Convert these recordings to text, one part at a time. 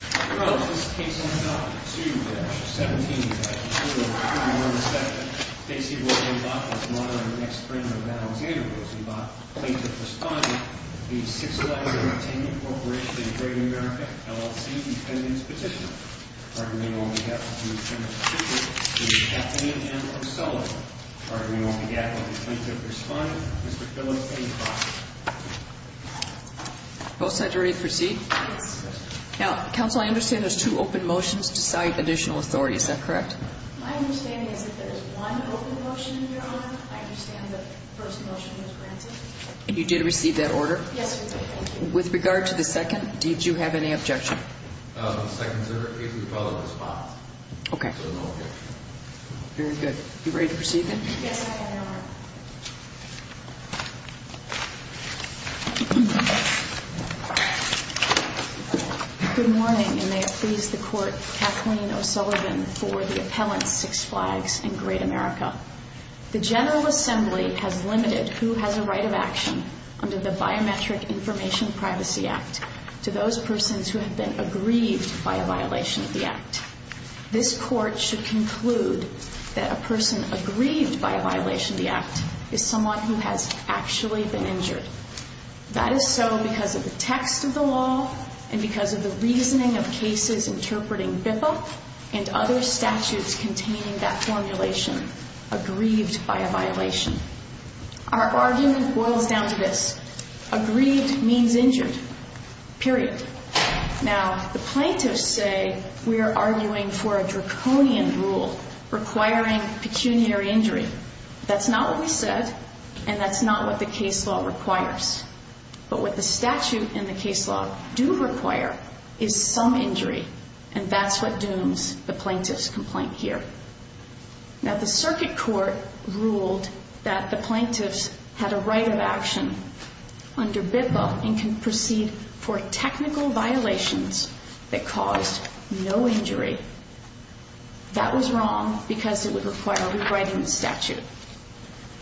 Case No. 2-17-0217. Stacey William Bach was one of the next friends of Alexander Rosenbach, plaintiff's son. The Six Flags Entertainment Corporation and Great American LLC defendants petitioner. Arguing on behalf of the Attorney General to be decapitated and or celebrated. Arguing on behalf of the plaintiff's son, Mr. Philip A. Crosby. Both sides are ready to proceed? Yes. Now, counsel, I understand there's two open motions to cite additional authority. Is that correct? My understanding is that there is one open motion in your honor. I understand that the first motion was granted. And you did receive that order? Yes, we did. Thank you. With regard to the second, did you have any objection? The second is a repellent response. Okay. So no objection. Very good. You ready to proceed then? Yes, I am, Your Honor. Good morning, and may it please the Court, Kathleen O'Sullivan for the appellant Six Flags and Great America. The General Assembly has limited who has a right of action under the Biometric Information Privacy Act to those persons who have been aggrieved by a violation of the Act. This Court should conclude that a person aggrieved by a violation of the Act is someone who has actually been injured. That is so because of the text of the law and because of the reasoning of cases interpreting BIFA and other statutes containing that formulation, aggrieved by a violation. Our argument boils down to this. Aggrieved means injured. Period. Now, the plaintiffs say we are arguing for a draconian rule requiring pecuniary injury. That's not what we said, and that's not what the case law requires. But what the statute and the case law do require is some injury, and that's what dooms the plaintiff's complaint here. Now, the circuit court ruled that the plaintiffs had a right of action under BIFA and can proceed for technical violations that caused no injury. That was wrong because it would require rewriting the statute.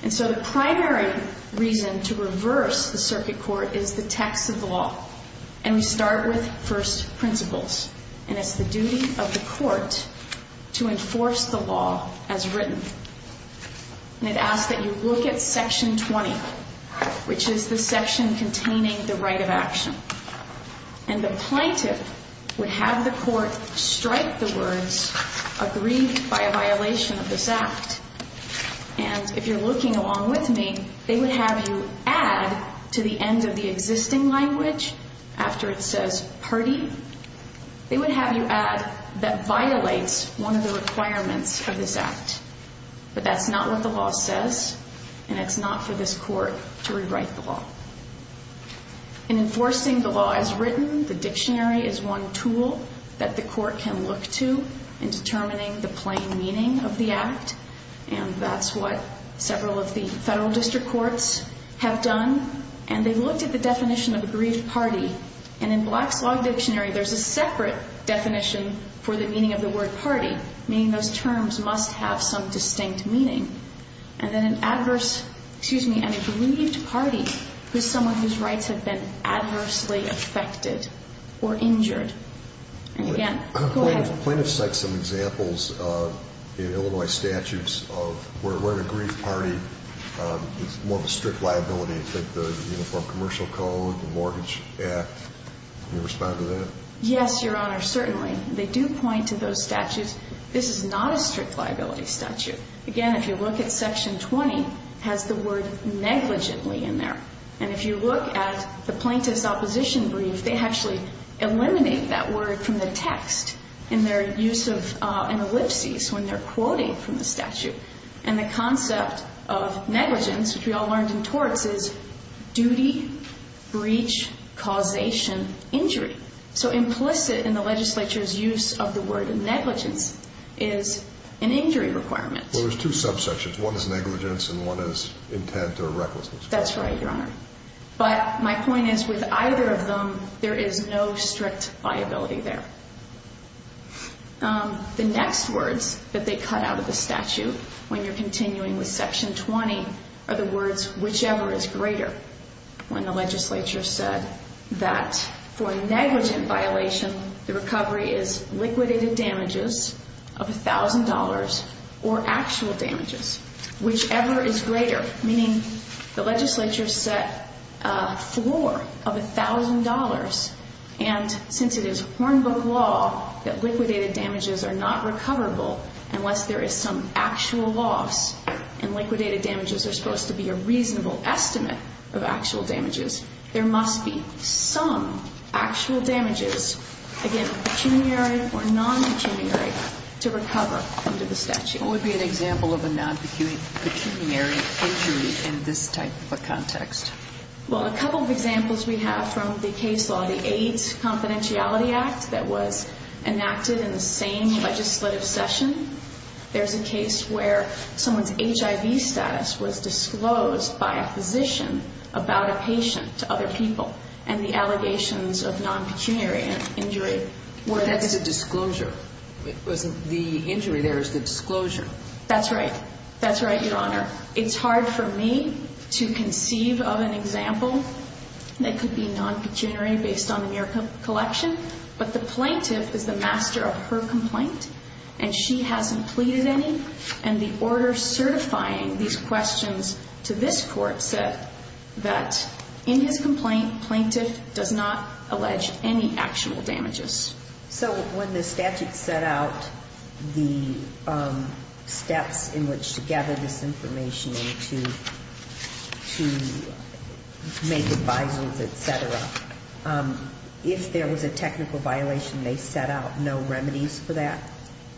And so the primary reason to reverse the circuit court is the text of the law, and we start with first principles. And it's the duty of the court to enforce the law as written. And it asks that you look at Section 20, which is the section containing the right of action. And the plaintiff would have the court strike the words aggrieved by a violation of this Act. And if you're looking along with me, they would have you add to the end of the existing language after it says party. They would have you add that violates one of the requirements of this Act. But that's not what the law says, and it's not for this court to rewrite the law. In enforcing the law as written, the dictionary is one tool that the court can look to in determining the plain meaning of the Act. And that's what several of the federal district courts have done. And they looked at the definition of aggrieved party. And in Black's Law Dictionary, there's a separate definition for the meaning of the word party, meaning those terms must have some distinct meaning. And then an adverse, excuse me, an aggrieved party is someone whose rights have been adversely affected or injured. And again, go ahead. Plaintiffs cite some examples in Illinois statutes of where an aggrieved party is more of a strict liability. It's like the Uniform Commercial Code, the Mortgage Act. Can you respond to that? Yes, Your Honor, certainly. They do point to those statutes. This is not a strict liability statute. Again, if you look at Section 20, it has the word negligently in there. And if you look at the Plaintiff's Opposition Brief, they actually eliminate that word from the text in their use of an ellipsis when they're quoting from the statute. And the concept of negligence, which we all learned in torts, is duty, breach, causation, injury. So implicit in the legislature's use of the word negligence is an injury requirement. Well, there's two subsections. One is negligence and one is intent or recklessness. That's right, Your Honor. But my point is with either of them, there is no strict liability there. The next words that they cut out of the statute when you're continuing with Section 20 are the words whichever is greater. When the legislature said that for negligent violation, the recovery is liquidated damages of $1,000 or actual damages. Whichever is greater, meaning the legislature set a floor of $1,000. And since it is Hornbook law that liquidated damages are not recoverable unless there is some actual loss, and liquidated damages are supposed to be a reasonable estimate of actual damages, there must be some actual damages, again, pecuniary or non-pecuniary, to recover under the statute. What would be an example of a non-pecuniary injury in this type of a context? Well, a couple of examples we have from the case law. The AIDS Confidentiality Act that was enacted in the same legislative session. There's a case where someone's HIV status was disclosed by a physician about a patient to other people, and the allegations of non-pecuniary injury were there. That's a disclosure. The injury there is the disclosure. That's right. That's right, Your Honor. It's hard for me to conceive of an example that could be non-pecuniary based on the mere collection. But the plaintiff is the master of her complaint, and she hasn't pleaded any. And the order certifying these questions to this court said that in his complaint, plaintiff does not allege any actual damages. So when the statute set out the steps in which to gather this information and to make advisers, et cetera, if there was a technical violation, they set out no remedies for that?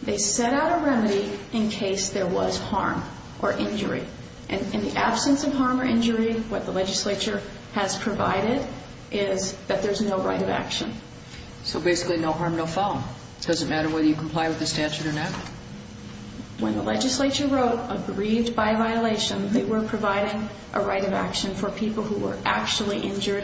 They set out a remedy in case there was harm or injury. And in the absence of harm or injury, what the legislature has provided is that there's no right of action. So basically no harm, no foul. It doesn't matter whether you comply with the statute or not. When the legislature wrote, agreed by violation, they were providing a right of action for people who were actually injured,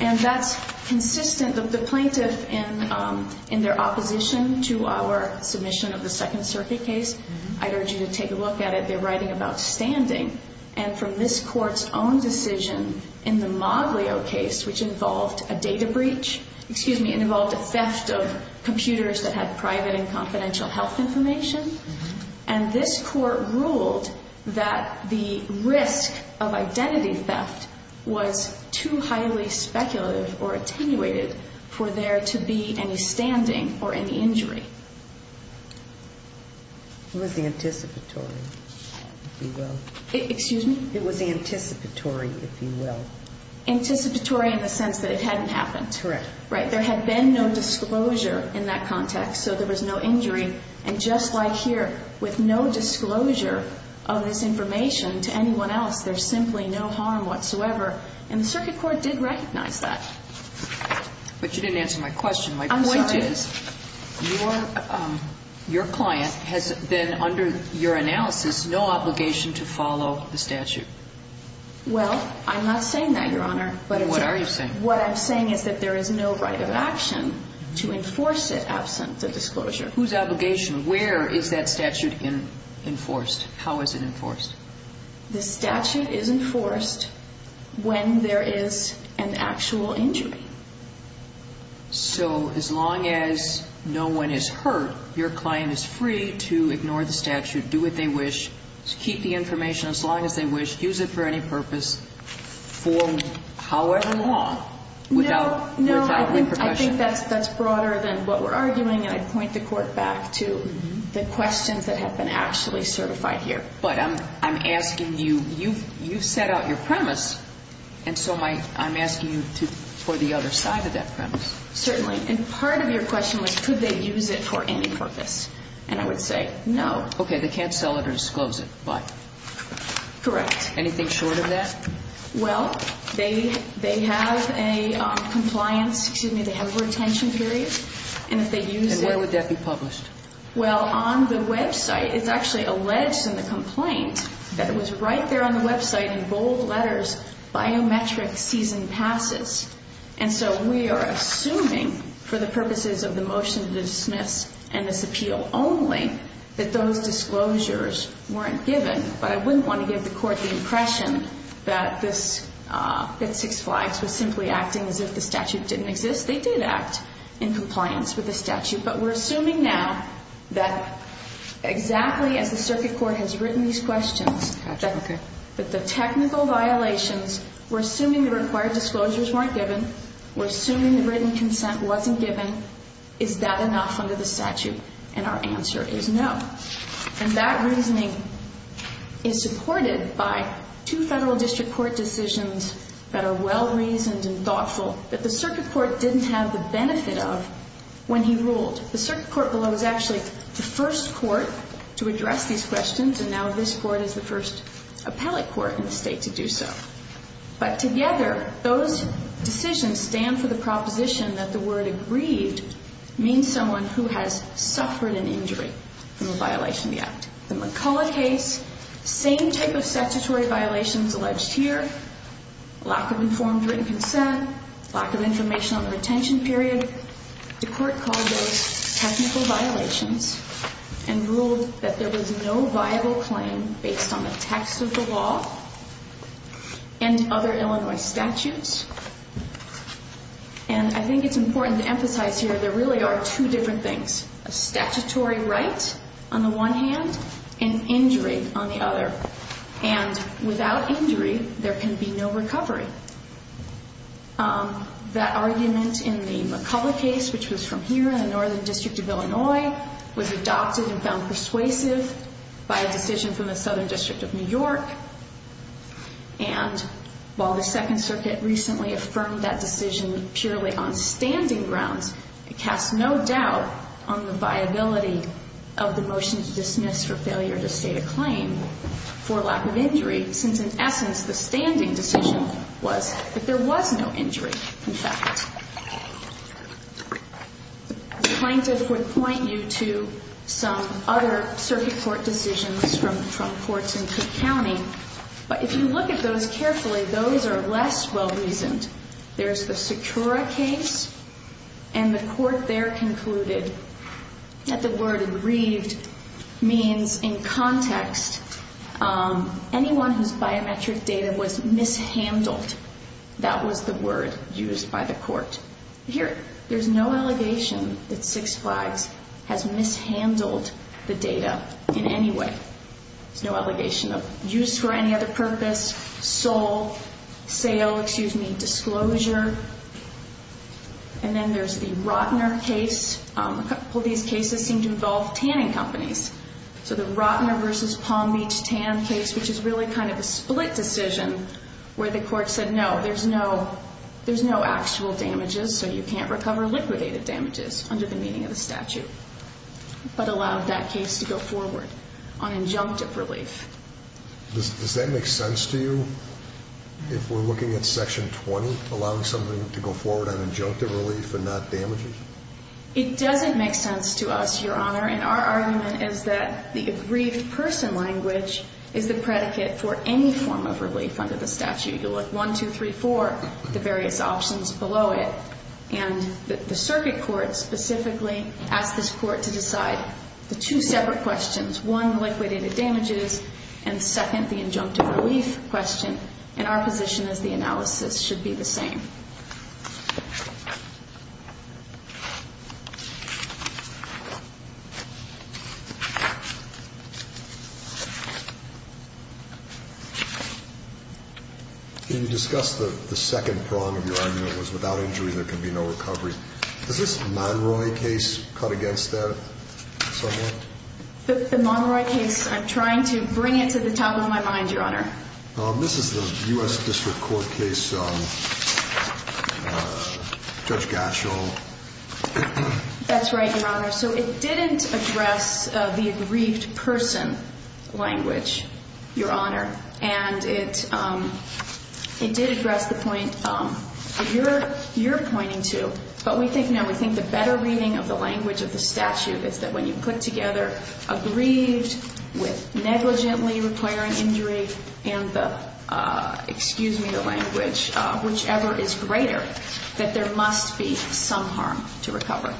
and that's consistent of the plaintiff in their opposition to our submission of the Second Circuit case. I'd urge you to take a look at it. They're writing about standing. And from this Court's own decision in the Moglio case, which involved a data breach, excuse me, it involved a theft of computers that had private and confidential health information. And this Court ruled that the risk of identity theft was too highly speculative or attenuated for there to be any standing or any injury. It was the anticipatory, if you will. Excuse me? It was the anticipatory, if you will. Anticipatory in the sense that it hadn't happened. Correct. Right. There had been no disclosure in that context, so there was no injury. And just like here, with no disclosure of this information to anyone else, there's simply no harm whatsoever. And the Circuit Court did recognize that. But you didn't answer my question. My point is your client has been under your analysis no obligation to follow the statute. Well, I'm not saying that, Your Honor. What are you saying? What I'm saying is that there is no right of action to enforce it absent the disclosure. Whose obligation? Where is that statute enforced? How is it enforced? The statute is enforced when there is an actual injury. So as long as no one is hurt, your client is free to ignore the statute, do what they wish, keep the information as long as they wish, use it for any purpose for however long without repercussion. No, I think that's broader than what we're arguing, and I point the Court back to the questions that have been actually certified here. And so I'm asking you for the other side of that premise. Certainly. And part of your question was could they use it for any purpose. And I would say no. Okay. They can't sell it or disclose it. Why? Correct. Anything short of that? Well, they have a compliance, excuse me, they have a retention period. And if they use it. And where would that be published? Well, on the website, it's actually alleged in the complaint that it was right there on the website in bold letters, biometric season passes. And so we are assuming for the purposes of the motion to dismiss and this appeal only, that those disclosures weren't given. But I wouldn't want to give the Court the impression that Six Flags was simply acting as if the statute didn't exist. They did act in compliance with the statute. But we're assuming now that exactly as the Circuit Court has written these questions. Okay. But the technical violations, we're assuming the required disclosures weren't given. We're assuming the written consent wasn't given. Is that enough under the statute? And our answer is no. And that reasoning is supported by two Federal District Court decisions that are well-reasoned and thoughtful that the Circuit Court didn't have the benefit of when he ruled. The Circuit Court below is actually the first court to address these questions. And now this court is the first appellate court in the state to do so. But together, those decisions stand for the proposition that the word agreed means someone who has suffered an injury from a violation of the act. The McCullough case, same type of statutory violations alleged here, lack of informed written consent, lack of information on the retention period. The court called those technical violations and ruled that there was no viable claim based on the text of the law and other Illinois statutes. And I think it's important to emphasize here there really are two different things, a statutory right on the one hand and injury on the other. And without injury, there can be no recovery. That argument in the McCullough case, which was from here in the Northern District of Illinois, was adopted and found persuasive by a decision from the Southern District of New York. And while the Second Circuit recently affirmed that decision purely on standing grounds, it casts no doubt on the viability of the motion to dismiss for failure to state a claim for lack of injury, since in essence the standing decision was that there was no injury, in fact. The plaintiff would point you to some other circuit court decisions from courts in Cook County. But if you look at those carefully, those are less well-reasoned. There's the Secura case, and the court there concluded that the word ereved means in context anyone whose biometric data was mishandled. That was the word used by the court. Here, there's no allegation that Six Flags has mishandled the data in any way. There's no allegation of use for any other purpose, sole, sale, excuse me, disclosure. And then there's the Rottner case. A couple of these cases seem to involve tanning companies. So the Rottner v. Palm Beach tan case, which is really kind of a split decision, where the court said, no, there's no actual damages, so you can't recover liquidated damages under the meaning of the statute, but allowed that case to go forward on injunctive relief. Does that make sense to you, if we're looking at Section 20, allowing something to go forward on injunctive relief and not damages? It doesn't make sense to us, Your Honor, and our argument is that the aggrieved person language is the predicate for any form of relief under the statute. You look 1, 2, 3, 4, the various options below it. And the circuit court specifically asked this court to decide the two separate questions, one, liquidated damages, and second, the injunctive relief question. And our position is the analysis should be the same. Can you discuss the second prong of your argument, which was without injury there can be no recovery. Is this Monroy case cut against that somewhat? The Monroy case, I'm trying to bring it to the top of my mind, Your Honor. This is the U.S. District Court case, Judge Gatchell. That's right, Your Honor. So it didn't address the aggrieved person language, Your Honor, and it did address the point that you're pointing to, but we think now we think the better reading of the language of the statute is that when you put together aggrieved with negligently requiring injury and the, excuse me, whichever is greater, that there must be some harm to recovery.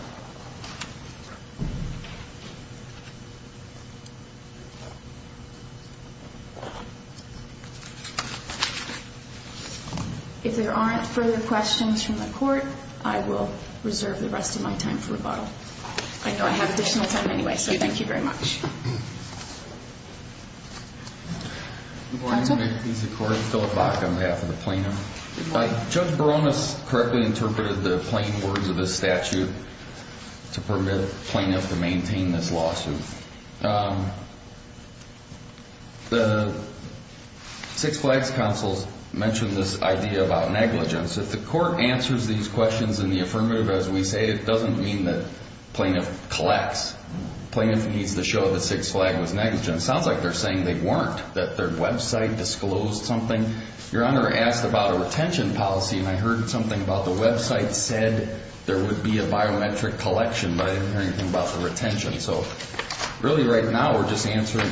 If there aren't further questions from the court, I will reserve the rest of my time for rebuttal. I know I have additional time anyway, so thank you very much. I'm going to make these according to Philip Bach on behalf of the plaintiff. Judge Barones correctly interpreted the plain words of the statute to permit the plaintiff to maintain this lawsuit. The Six Flags counsel mentioned this idea about negligence. If the court answers these questions in the affirmative, as we say, it doesn't mean that the plaintiff collects. The plaintiff needs to show that Six Flags was negligent. It sounds like they're saying they weren't, that their website disclosed something. Your Honor asked about a retention policy, and I heard something about the website said there would be a biometric collection, but I didn't hear anything about the retention. So really right now we're just answering,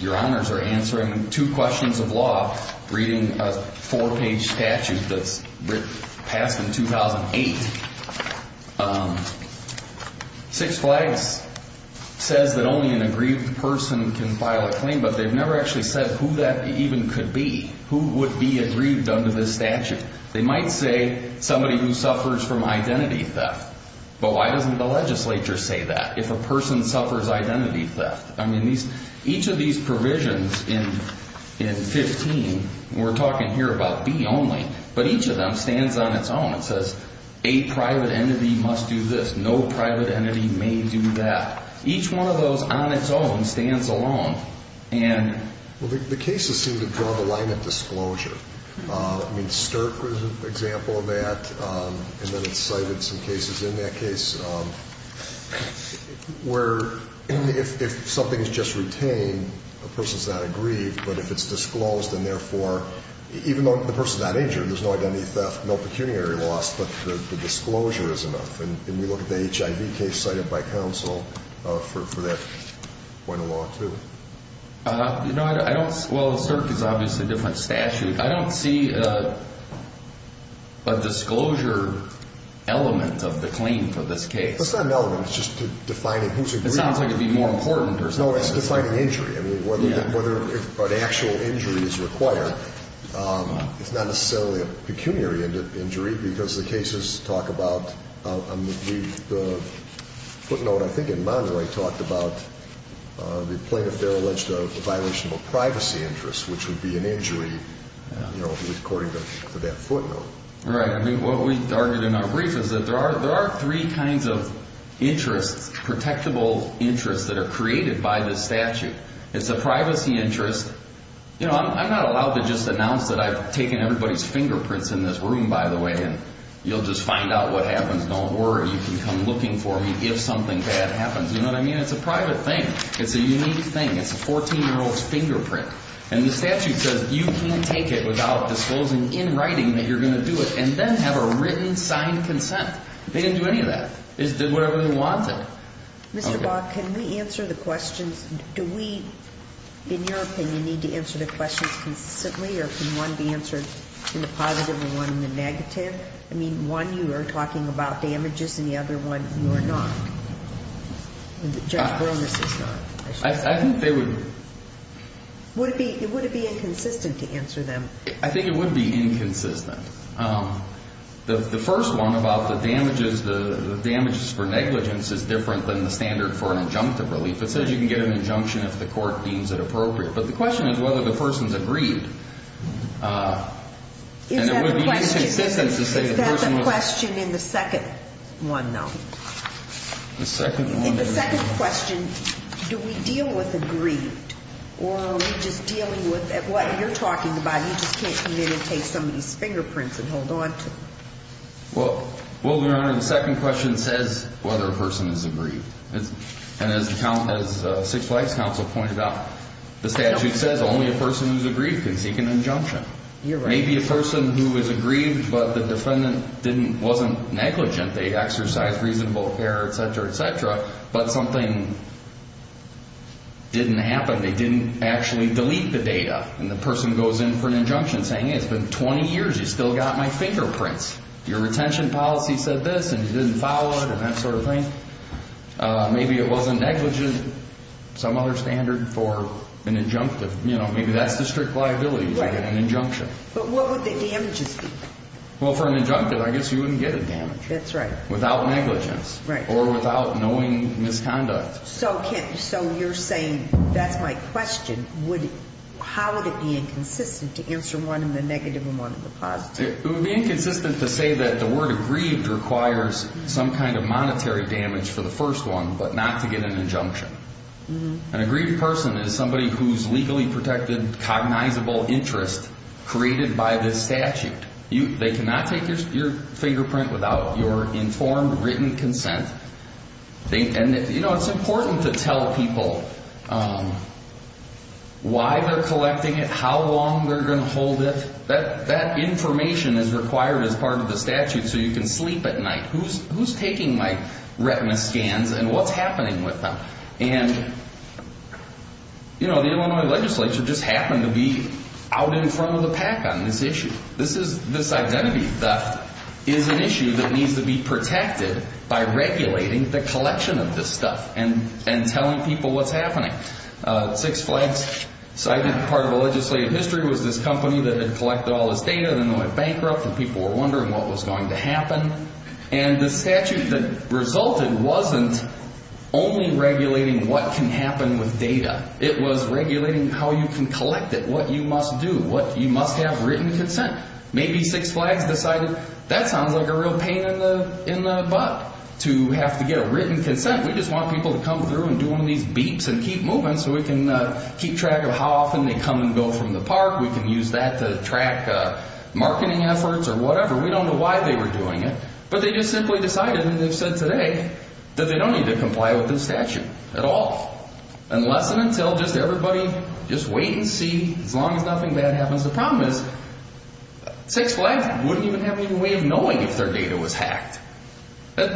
Your Honors are answering two questions of law, reading a four-page statute that's passed in 2008. Six Flags says that only an aggrieved person can file a claim, but they've never actually said who that even could be, who would be aggrieved under this statute. They might say somebody who suffers from identity theft, but why doesn't the legislature say that if a person suffers identity theft? I mean, each of these provisions in 15, we're talking here about B only, but each of them stands on its own and says a private entity must do this, no private entity may do that. Each one of those on its own stands alone. Well, the cases seem to draw the line at disclosure. I mean, Sterk was an example of that, and then it cited some cases in that case where if something is just retained, a person's not aggrieved, but if it's disclosed and, therefore, even though the person's not injured, there's no identity theft, no pecuniary loss, but the disclosure is enough. And we look at the HIV case cited by counsel for that point of law, too. Well, Sterk is obviously a different statute. I don't see a disclosure element of the claim for this case. It's not an element. It's just defining who's aggrieved. It sounds like it would be more important or something. No, it's defining injury. I mean, whether an actual injury is required, it's not necessarily a pecuniary injury because the cases talk about the footnote, I think, in Monroy, talked about the plaintiff there alleged a violation of privacy interest, which would be an injury, you know, according to that footnote. Right. I mean, what we argued in our brief is that there are three kinds of interests, protectable interests that are created by this statute. It's a privacy interest. You know, I'm not allowed to just announce that I've taken everybody's fingerprints in this room, by the way, and you'll just find out what happens. Don't worry. You can come looking for me if something bad happens. You know what I mean? It's a private thing. It's a unique thing. It's a 14-year-old's fingerprint. And the statute says you can't take it without disclosing in writing that you're going to do it and then have a written, signed consent. They didn't do any of that. They just did whatever they wanted. Okay. Mr. Bob, can we answer the questions? Do we, in your opinion, need to answer the questions consistently, or can one be answered in the positive and one in the negative? I mean, one, you are talking about damages, and the other one, you are not. Judge Borges is not. I think they would be. Would it be inconsistent to answer them? I think it would be inconsistent. The first one about the damages, the damages for negligence, is different than the standard for an injunctive relief. It says you can get an injunction if the court deems it appropriate. But the question is whether the person's agreed. And it would be inconsistent to say the person was. Is that the question in the second one, though? The second one? In the second question, do we deal with agreed, or are we just dealing with what you're talking about? You just can't communicate somebody's fingerprints and hold on to them. Well, Your Honor, the second question says whether a person is agreed. And as the Six Flags Council pointed out, the statute says only a person who is agreed can seek an injunction. You're right. Maybe a person who is agreed, but the defendant wasn't negligent. They exercised reasonable care, et cetera, et cetera. But something didn't happen. They didn't actually delete the data. And the person goes in for an injunction saying, hey, it's been 20 years, you still got my fingerprints. Your retention policy said this, and you didn't follow it, and that sort of thing. Maybe it wasn't negligent, some other standard for an injunctive. You know, maybe that's the strict liability to get an injunction. But what would the damages be? Well, for an injunctive, I guess you wouldn't get a damage. That's right. Without negligence. Right. Or without knowing misconduct. So you're saying that's my question. How would it be inconsistent to answer one in the negative and one in the positive? It would be inconsistent to say that the word agreed requires some kind of monetary damage for the first one, but not to get an injunction. An agreed person is somebody who's legally protected, cognizable interest created by this statute. They cannot take your fingerprint without your informed, written consent. And, you know, it's important to tell people why they're collecting it, how long they're going to hold it. That information is required as part of the statute so you can sleep at night. Who's taking my retina scans and what's happening with them? And, you know, the Illinois legislature just happened to be out in front of the pack on this issue. This is this identity that is an issue that needs to be protected by regulating the collection of this stuff and telling people what's happening. Six Flags, part of the legislative history was this company that had collected all this data and then went bankrupt and people were wondering what was going to happen. And the statute that resulted wasn't only regulating what can happen with data. It was regulating how you can collect it, what you must do, what you must have written consent. Maybe Six Flags decided that sounds like a real pain in the butt to have to get written consent. We just want people to come through and do one of these beeps and keep moving so we can keep track of how often they come and go from the park. We can use that to track marketing efforts or whatever. We don't know why they were doing it, but they just simply decided, and they've said today, that they don't need to comply with this statute at all. Unless and until just everybody, just wait and see. As long as nothing bad happens. The problem is Six Flags wouldn't even have any way of knowing if their data was hacked.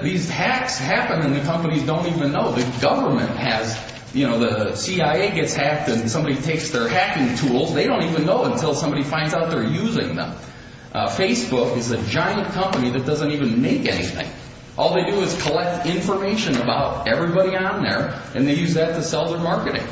These hacks happen and the companies don't even know. The government has, you know, the CIA gets hacked and somebody takes their hacking tools. They don't even know until somebody finds out they're using them. Facebook is a giant company that doesn't even make anything. All they do is collect information about everybody on there, and they use that to sell their marketing.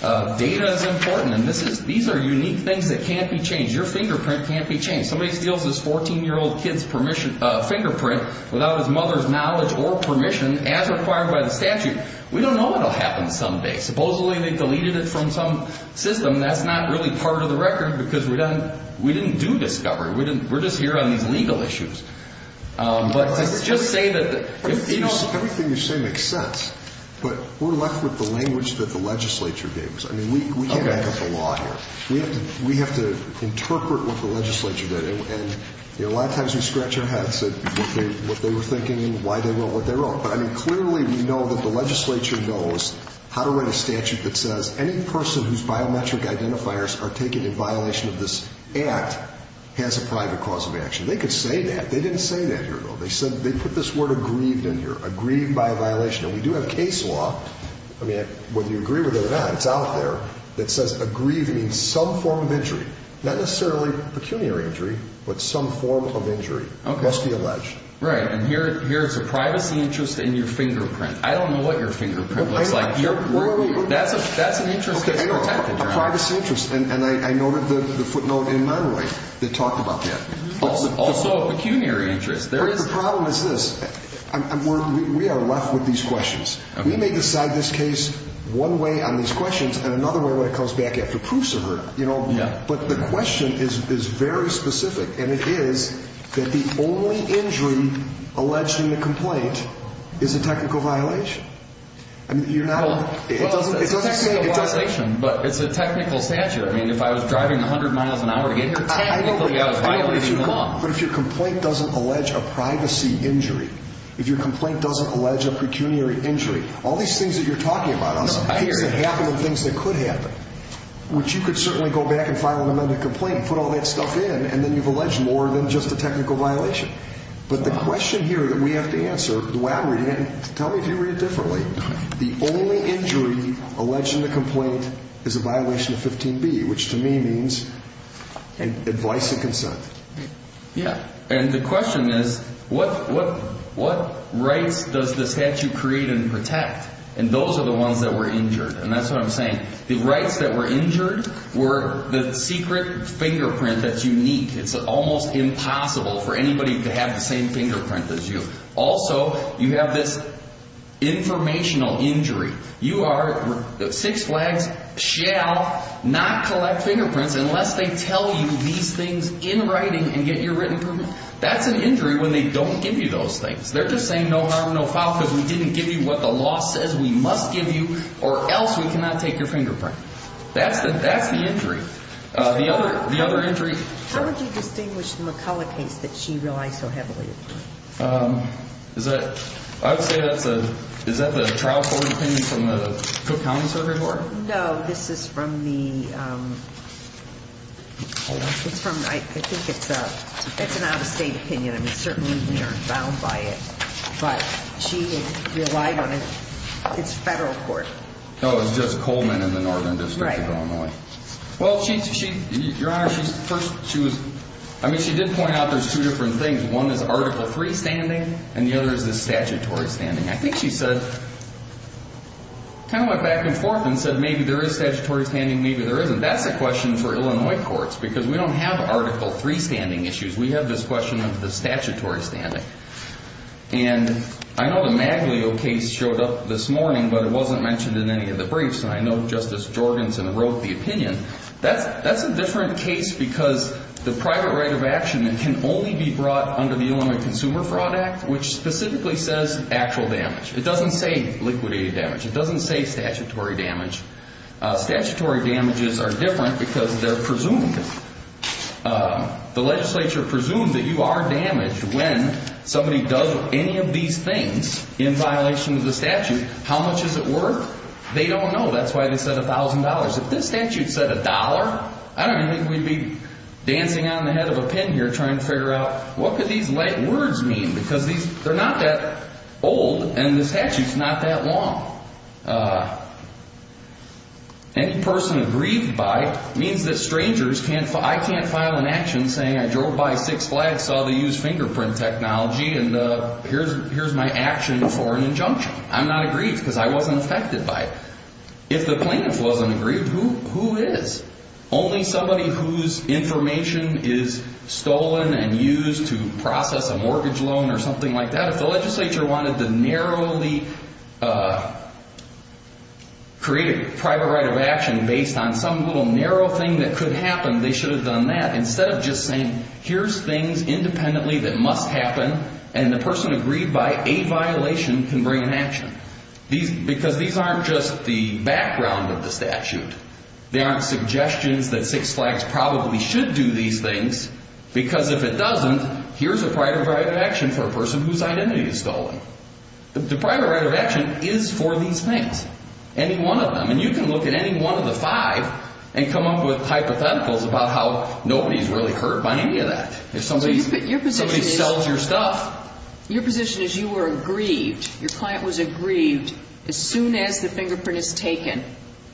Data is important, and these are unique things that can't be changed. Your fingerprint can't be changed. Somebody steals this 14-year-old kid's fingerprint without his mother's knowledge or permission as required by the statute. We don't know what will happen someday. Supposedly they deleted it from some system. That's not really part of the record because we didn't do discovery. We're just here on these legal issues. Let's just say that, you know— Everything you say makes sense, but we're left with the language that the legislature gave us. I mean, we can't make up a law here. We have to interpret what the legislature did. And, you know, a lot of times we scratch our heads at what they were thinking and why they wrote what they wrote. But, I mean, clearly we know that the legislature knows how to write a statute that says any person whose biometric identifiers are taken in violation of this act has a private cause of action. They could say that. They didn't say that here, though. They said—they put this word aggrieved in here. Aggrieved by a violation. And we do have case law—I mean, whether you agree with it or not, it's out there— that says aggrieved means some form of injury. Not necessarily pecuniary injury, but some form of injury must be alleged. Right, and here's a privacy interest in your fingerprint. I don't know what your fingerprint looks like. That's an interest that's protected. A privacy interest. And I noted the footnote in my lawyer that talked about that. Also a pecuniary interest. The problem is this. We are left with these questions. We may decide this case one way on these questions and another way when it comes back after proofs are heard. But the question is very specific, and it is that the only injury alleged in the complaint is a technical violation. I mean, you're not— Well, it's a technical violation, but it's a technical statute. I mean, if I was driving 100 miles an hour to get here, technically I was violating the law. But if your complaint doesn't allege a privacy injury, if your complaint doesn't allege a pecuniary injury, all these things that you're talking about are things that happen and things that could happen, which you could certainly go back and file an amended complaint and put all that stuff in, and then you've alleged more than just a technical violation. But the question here that we have to answer, the way I'm reading it, and tell me if you read it differently, the only injury alleged in the complaint is a violation of 15B, which to me means advice and consent. Yeah. And the question is, what rights does the statute create and protect? And those are the ones that were injured. And that's what I'm saying. The rights that were injured were the secret fingerprint that you need. It's almost impossible for anybody to have the same fingerprint as you. Also, you have this informational injury. You are, Six Flags shall not collect fingerprints unless they tell you these things in writing and get your written approval. That's an injury when they don't give you those things. They're just saying no harm, no foul, because we didn't give you what the law says we must give you, or else we cannot take your fingerprint. That's the injury. The other injury. How would you distinguish the McCullough case that she relies so heavily upon? I would say that's a – is that the trial court opinion from the Cook County Service Board? No, this is from the – I think it's an out-of-state opinion. I mean, certainly we aren't bound by it. But she relied on its federal court. Oh, it's just Coleman in the northern district of Illinois. Right. Well, your Honor, she first – she was – I mean, she did point out there's two different things. One is Article III standing, and the other is the statutory standing. I think she said – kind of went back and forth and said maybe there is statutory standing, maybe there isn't. That's a question for Illinois courts, because we don't have Article III standing issues. We have this question of the statutory standing. And I know the Maglio case showed up this morning, but it wasn't mentioned in any of the briefs. And I know Justice Jorgenson wrote the opinion. That's a different case because the private right of action can only be brought under the Illinois Consumer Fraud Act, which specifically says actual damage. It doesn't say liquidated damage. It doesn't say statutory damage. Statutory damages are different because they're presumed – the legislature presumes that you are damaged when somebody does any of these things in violation of the statute. How much does it work? They don't know. That's why they said $1,000. If this statute said $1, I don't think we'd be dancing on the head of a pin here trying to figure out what could these words mean, because they're not that old and the statute's not that long. Any person aggrieved by means that strangers can't – I can't file an action saying I drove by Six Flags, saw the used fingerprint technology, and here's my action for an injunction. I'm not aggrieved because I wasn't affected by it. If the plaintiff wasn't aggrieved, who is? Only somebody whose information is stolen and used to process a mortgage loan or something like that. If the legislature wanted to narrowly create a private right of action based on some little narrow thing that could happen, they should have done that. Instead of just saying, here's things independently that must happen, and the person aggrieved by a violation can bring an action. Because these aren't just the background of the statute. They aren't suggestions that Six Flags probably should do these things, because if it doesn't, here's a private right of action for a person whose identity is stolen. The private right of action is for these things, any one of them. And you can look at any one of the five and come up with hypotheticals about how nobody's really hurt by any of that. If somebody sells your stuff. Your position is you were aggrieved. Your client was aggrieved as soon as the fingerprint is taken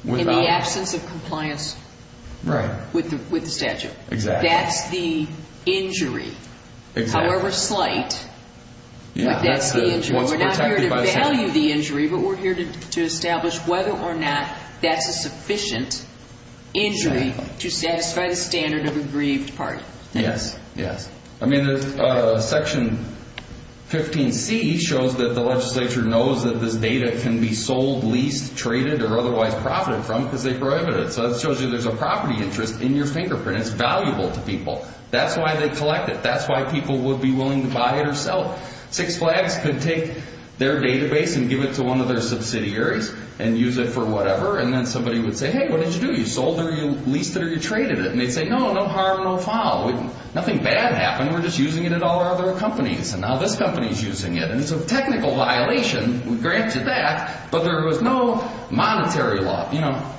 in the absence of compliance with the statute. That's the injury. However slight, that's the injury. We're not here to value the injury, but we're here to establish whether or not that's a sufficient injury to satisfy the standard of aggrieved party. Yes, yes. I mean, Section 15c shows that the legislature knows that this data can be sold, leased, traded, or otherwise profited from because they prohibited it. So that shows you there's a property interest in your fingerprint. It's valuable to people. That's why they collect it. That's why people would be willing to buy it or sell it. Six Flags could take their database and give it to one of their subsidiaries and use it for whatever, and then somebody would say, hey, what did you do? You sold it or you leased it or you traded it? And they'd say, no, no harm, no foul. Nothing bad happened. We're just using it at all our other companies, and now this company's using it. And it's a technical violation. We grant you that. But there was no monetary law. You know,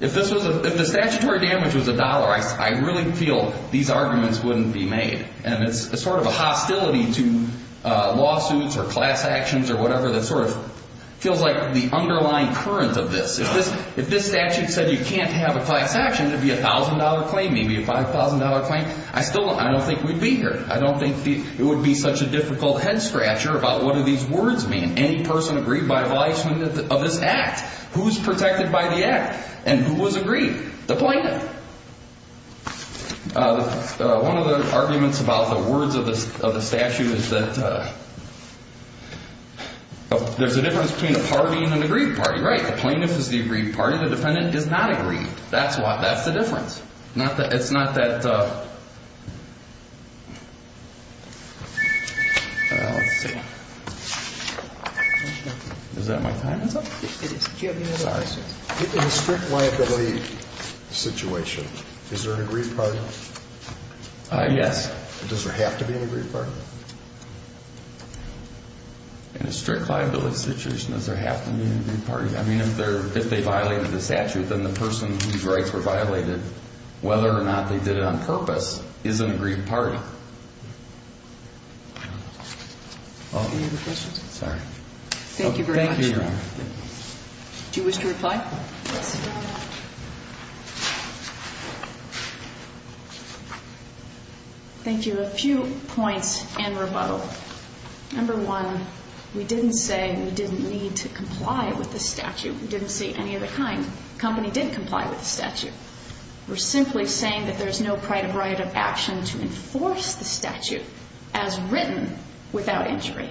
if the statutory damage was a dollar, I really feel these arguments wouldn't be made. And it's sort of a hostility to lawsuits or class actions or whatever that sort of feels like the underlying current of this. If this statute said you can't have a class action, it would be a $1,000 claim, maybe a $5,000 claim. I still don't think we'd be here. I don't think it would be such a difficult head-scratcher about what do these words mean. Any person aggrieved by a violation of this act. Who's protected by the act and who was aggrieved? The plaintiff. One of the arguments about the words of the statute is that there's a difference between a party and an aggrieved party. And you're right. The plaintiff is the aggrieved party. The defendant is not aggrieved. That's the difference. It's not that. Let's see. Is that my time is up? In a strict liability situation, is there an aggrieved party? Yes. Does there have to be an aggrieved party? In a strict liability situation, does there have to be an aggrieved party? I mean, if they violated the statute, then the person whose rights were violated, whether or not they did it on purpose, is an aggrieved party. Do you have a question? Sorry. Thank you very much. Thank you, Your Honor. Do you wish to reply? Yes. Thank you, Your Honor. Thank you. A few points in rebuttal. Number one, we didn't say we didn't need to comply with the statute. We didn't say any of the kind. The company did comply with the statute. We're simply saying that there's no right of action to enforce the statute as written without injury.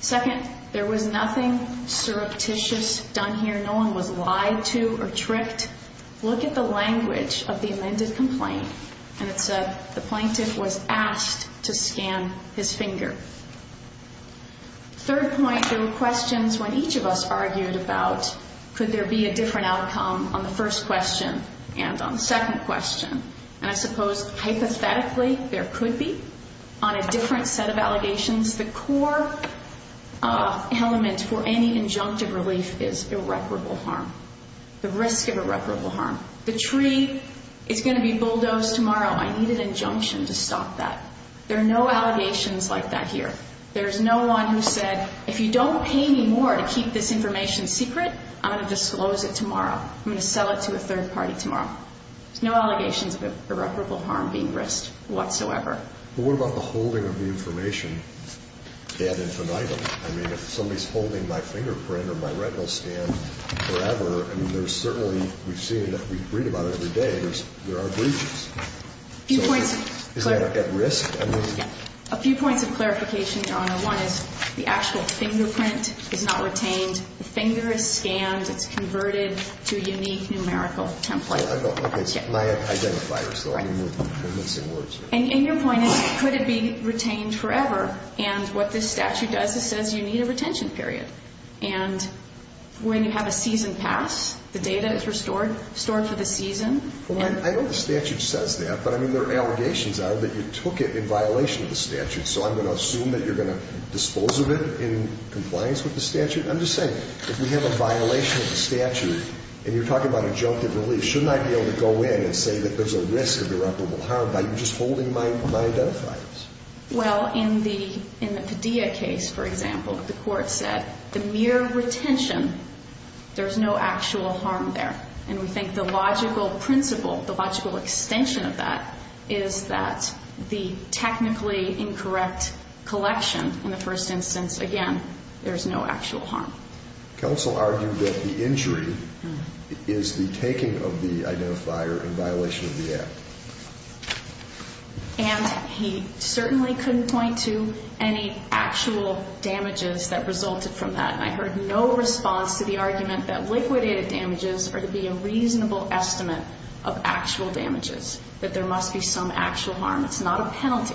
Second, there was nothing surreptitious done here. No one was lied to or tricked. Look at the language of the amended complaint, and it said the plaintiff was asked to scan his finger. Third point, there were questions when each of us argued about could there be a different outcome on the first question and on the second question. And I suppose hypothetically there could be on a different set of allegations. The core element for any injunctive relief is irreparable harm, the risk of irreparable harm. The tree is going to be bulldozed tomorrow. I needed injunction to stop that. There are no allegations like that here. There is no one who said if you don't pay me more to keep this information secret, I'm going to disclose it tomorrow. I'm going to sell it to a third party tomorrow. There's no allegations of irreparable harm being risked whatsoever. But what about the holding of the information ad infinitum? I mean, if somebody's holding my fingerprint or my retinal scan forever, I mean, there's certainly we've seen that we read about it every day. There are breaches. A few points of clarification. Is that at risk? A few points of clarification, Your Honor. One is the actual fingerprint is not retained. The finger is scanned. It's converted to a unique numerical template. Okay. My identifiers, though. I'm missing words. And your point is could it be retained forever? And what this statute does is says you need a retention period. And when you have a season pass, the data is restored, stored for the season. Well, I know the statute says that. But, I mean, there are allegations out that you took it in violation of the statute. So I'm going to assume that you're going to dispose of it in compliance with the statute. I'm just saying, if we have a violation of the statute, and you're talking about adjunctive relief, shouldn't I be able to go in and say that there's a risk of irreparable harm by just holding my identifiers? Well, in the Padilla case, for example, the court said the mere retention, there's no actual harm there. And we think the logical principle, the logical extension of that, is that the technically incorrect collection in the first instance, again, there's no actual harm. Counsel argued that the injury is the taking of the identifier in violation of the act. And he certainly couldn't point to any actual damages that resulted from that. And I heard no response to the argument that liquidated damages are to be a reasonable estimate of actual damages, that there must be some actual harm. It's not a penalty.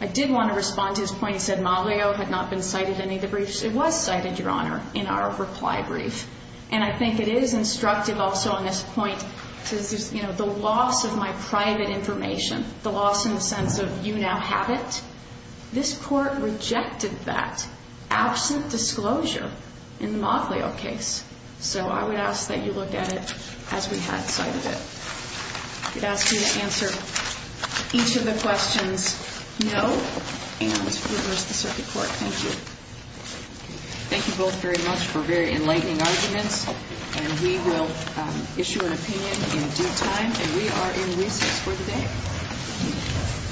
I did want to respond to his point. He said Maglio had not been cited in any of the briefs. It was cited, Your Honor, in our reply brief. And I think it is instructive also on this point to, you know, the loss of my private information, the loss in the sense of you now have it. This court rejected that absent disclosure in the Maglio case. So I would ask that you look at it as we had cited it. I would ask you to answer each of the questions no and reverse the circuit court. Thank you. Thank you both very much for very enlightening arguments. And we will issue an opinion in due time. And we are in recess for the day.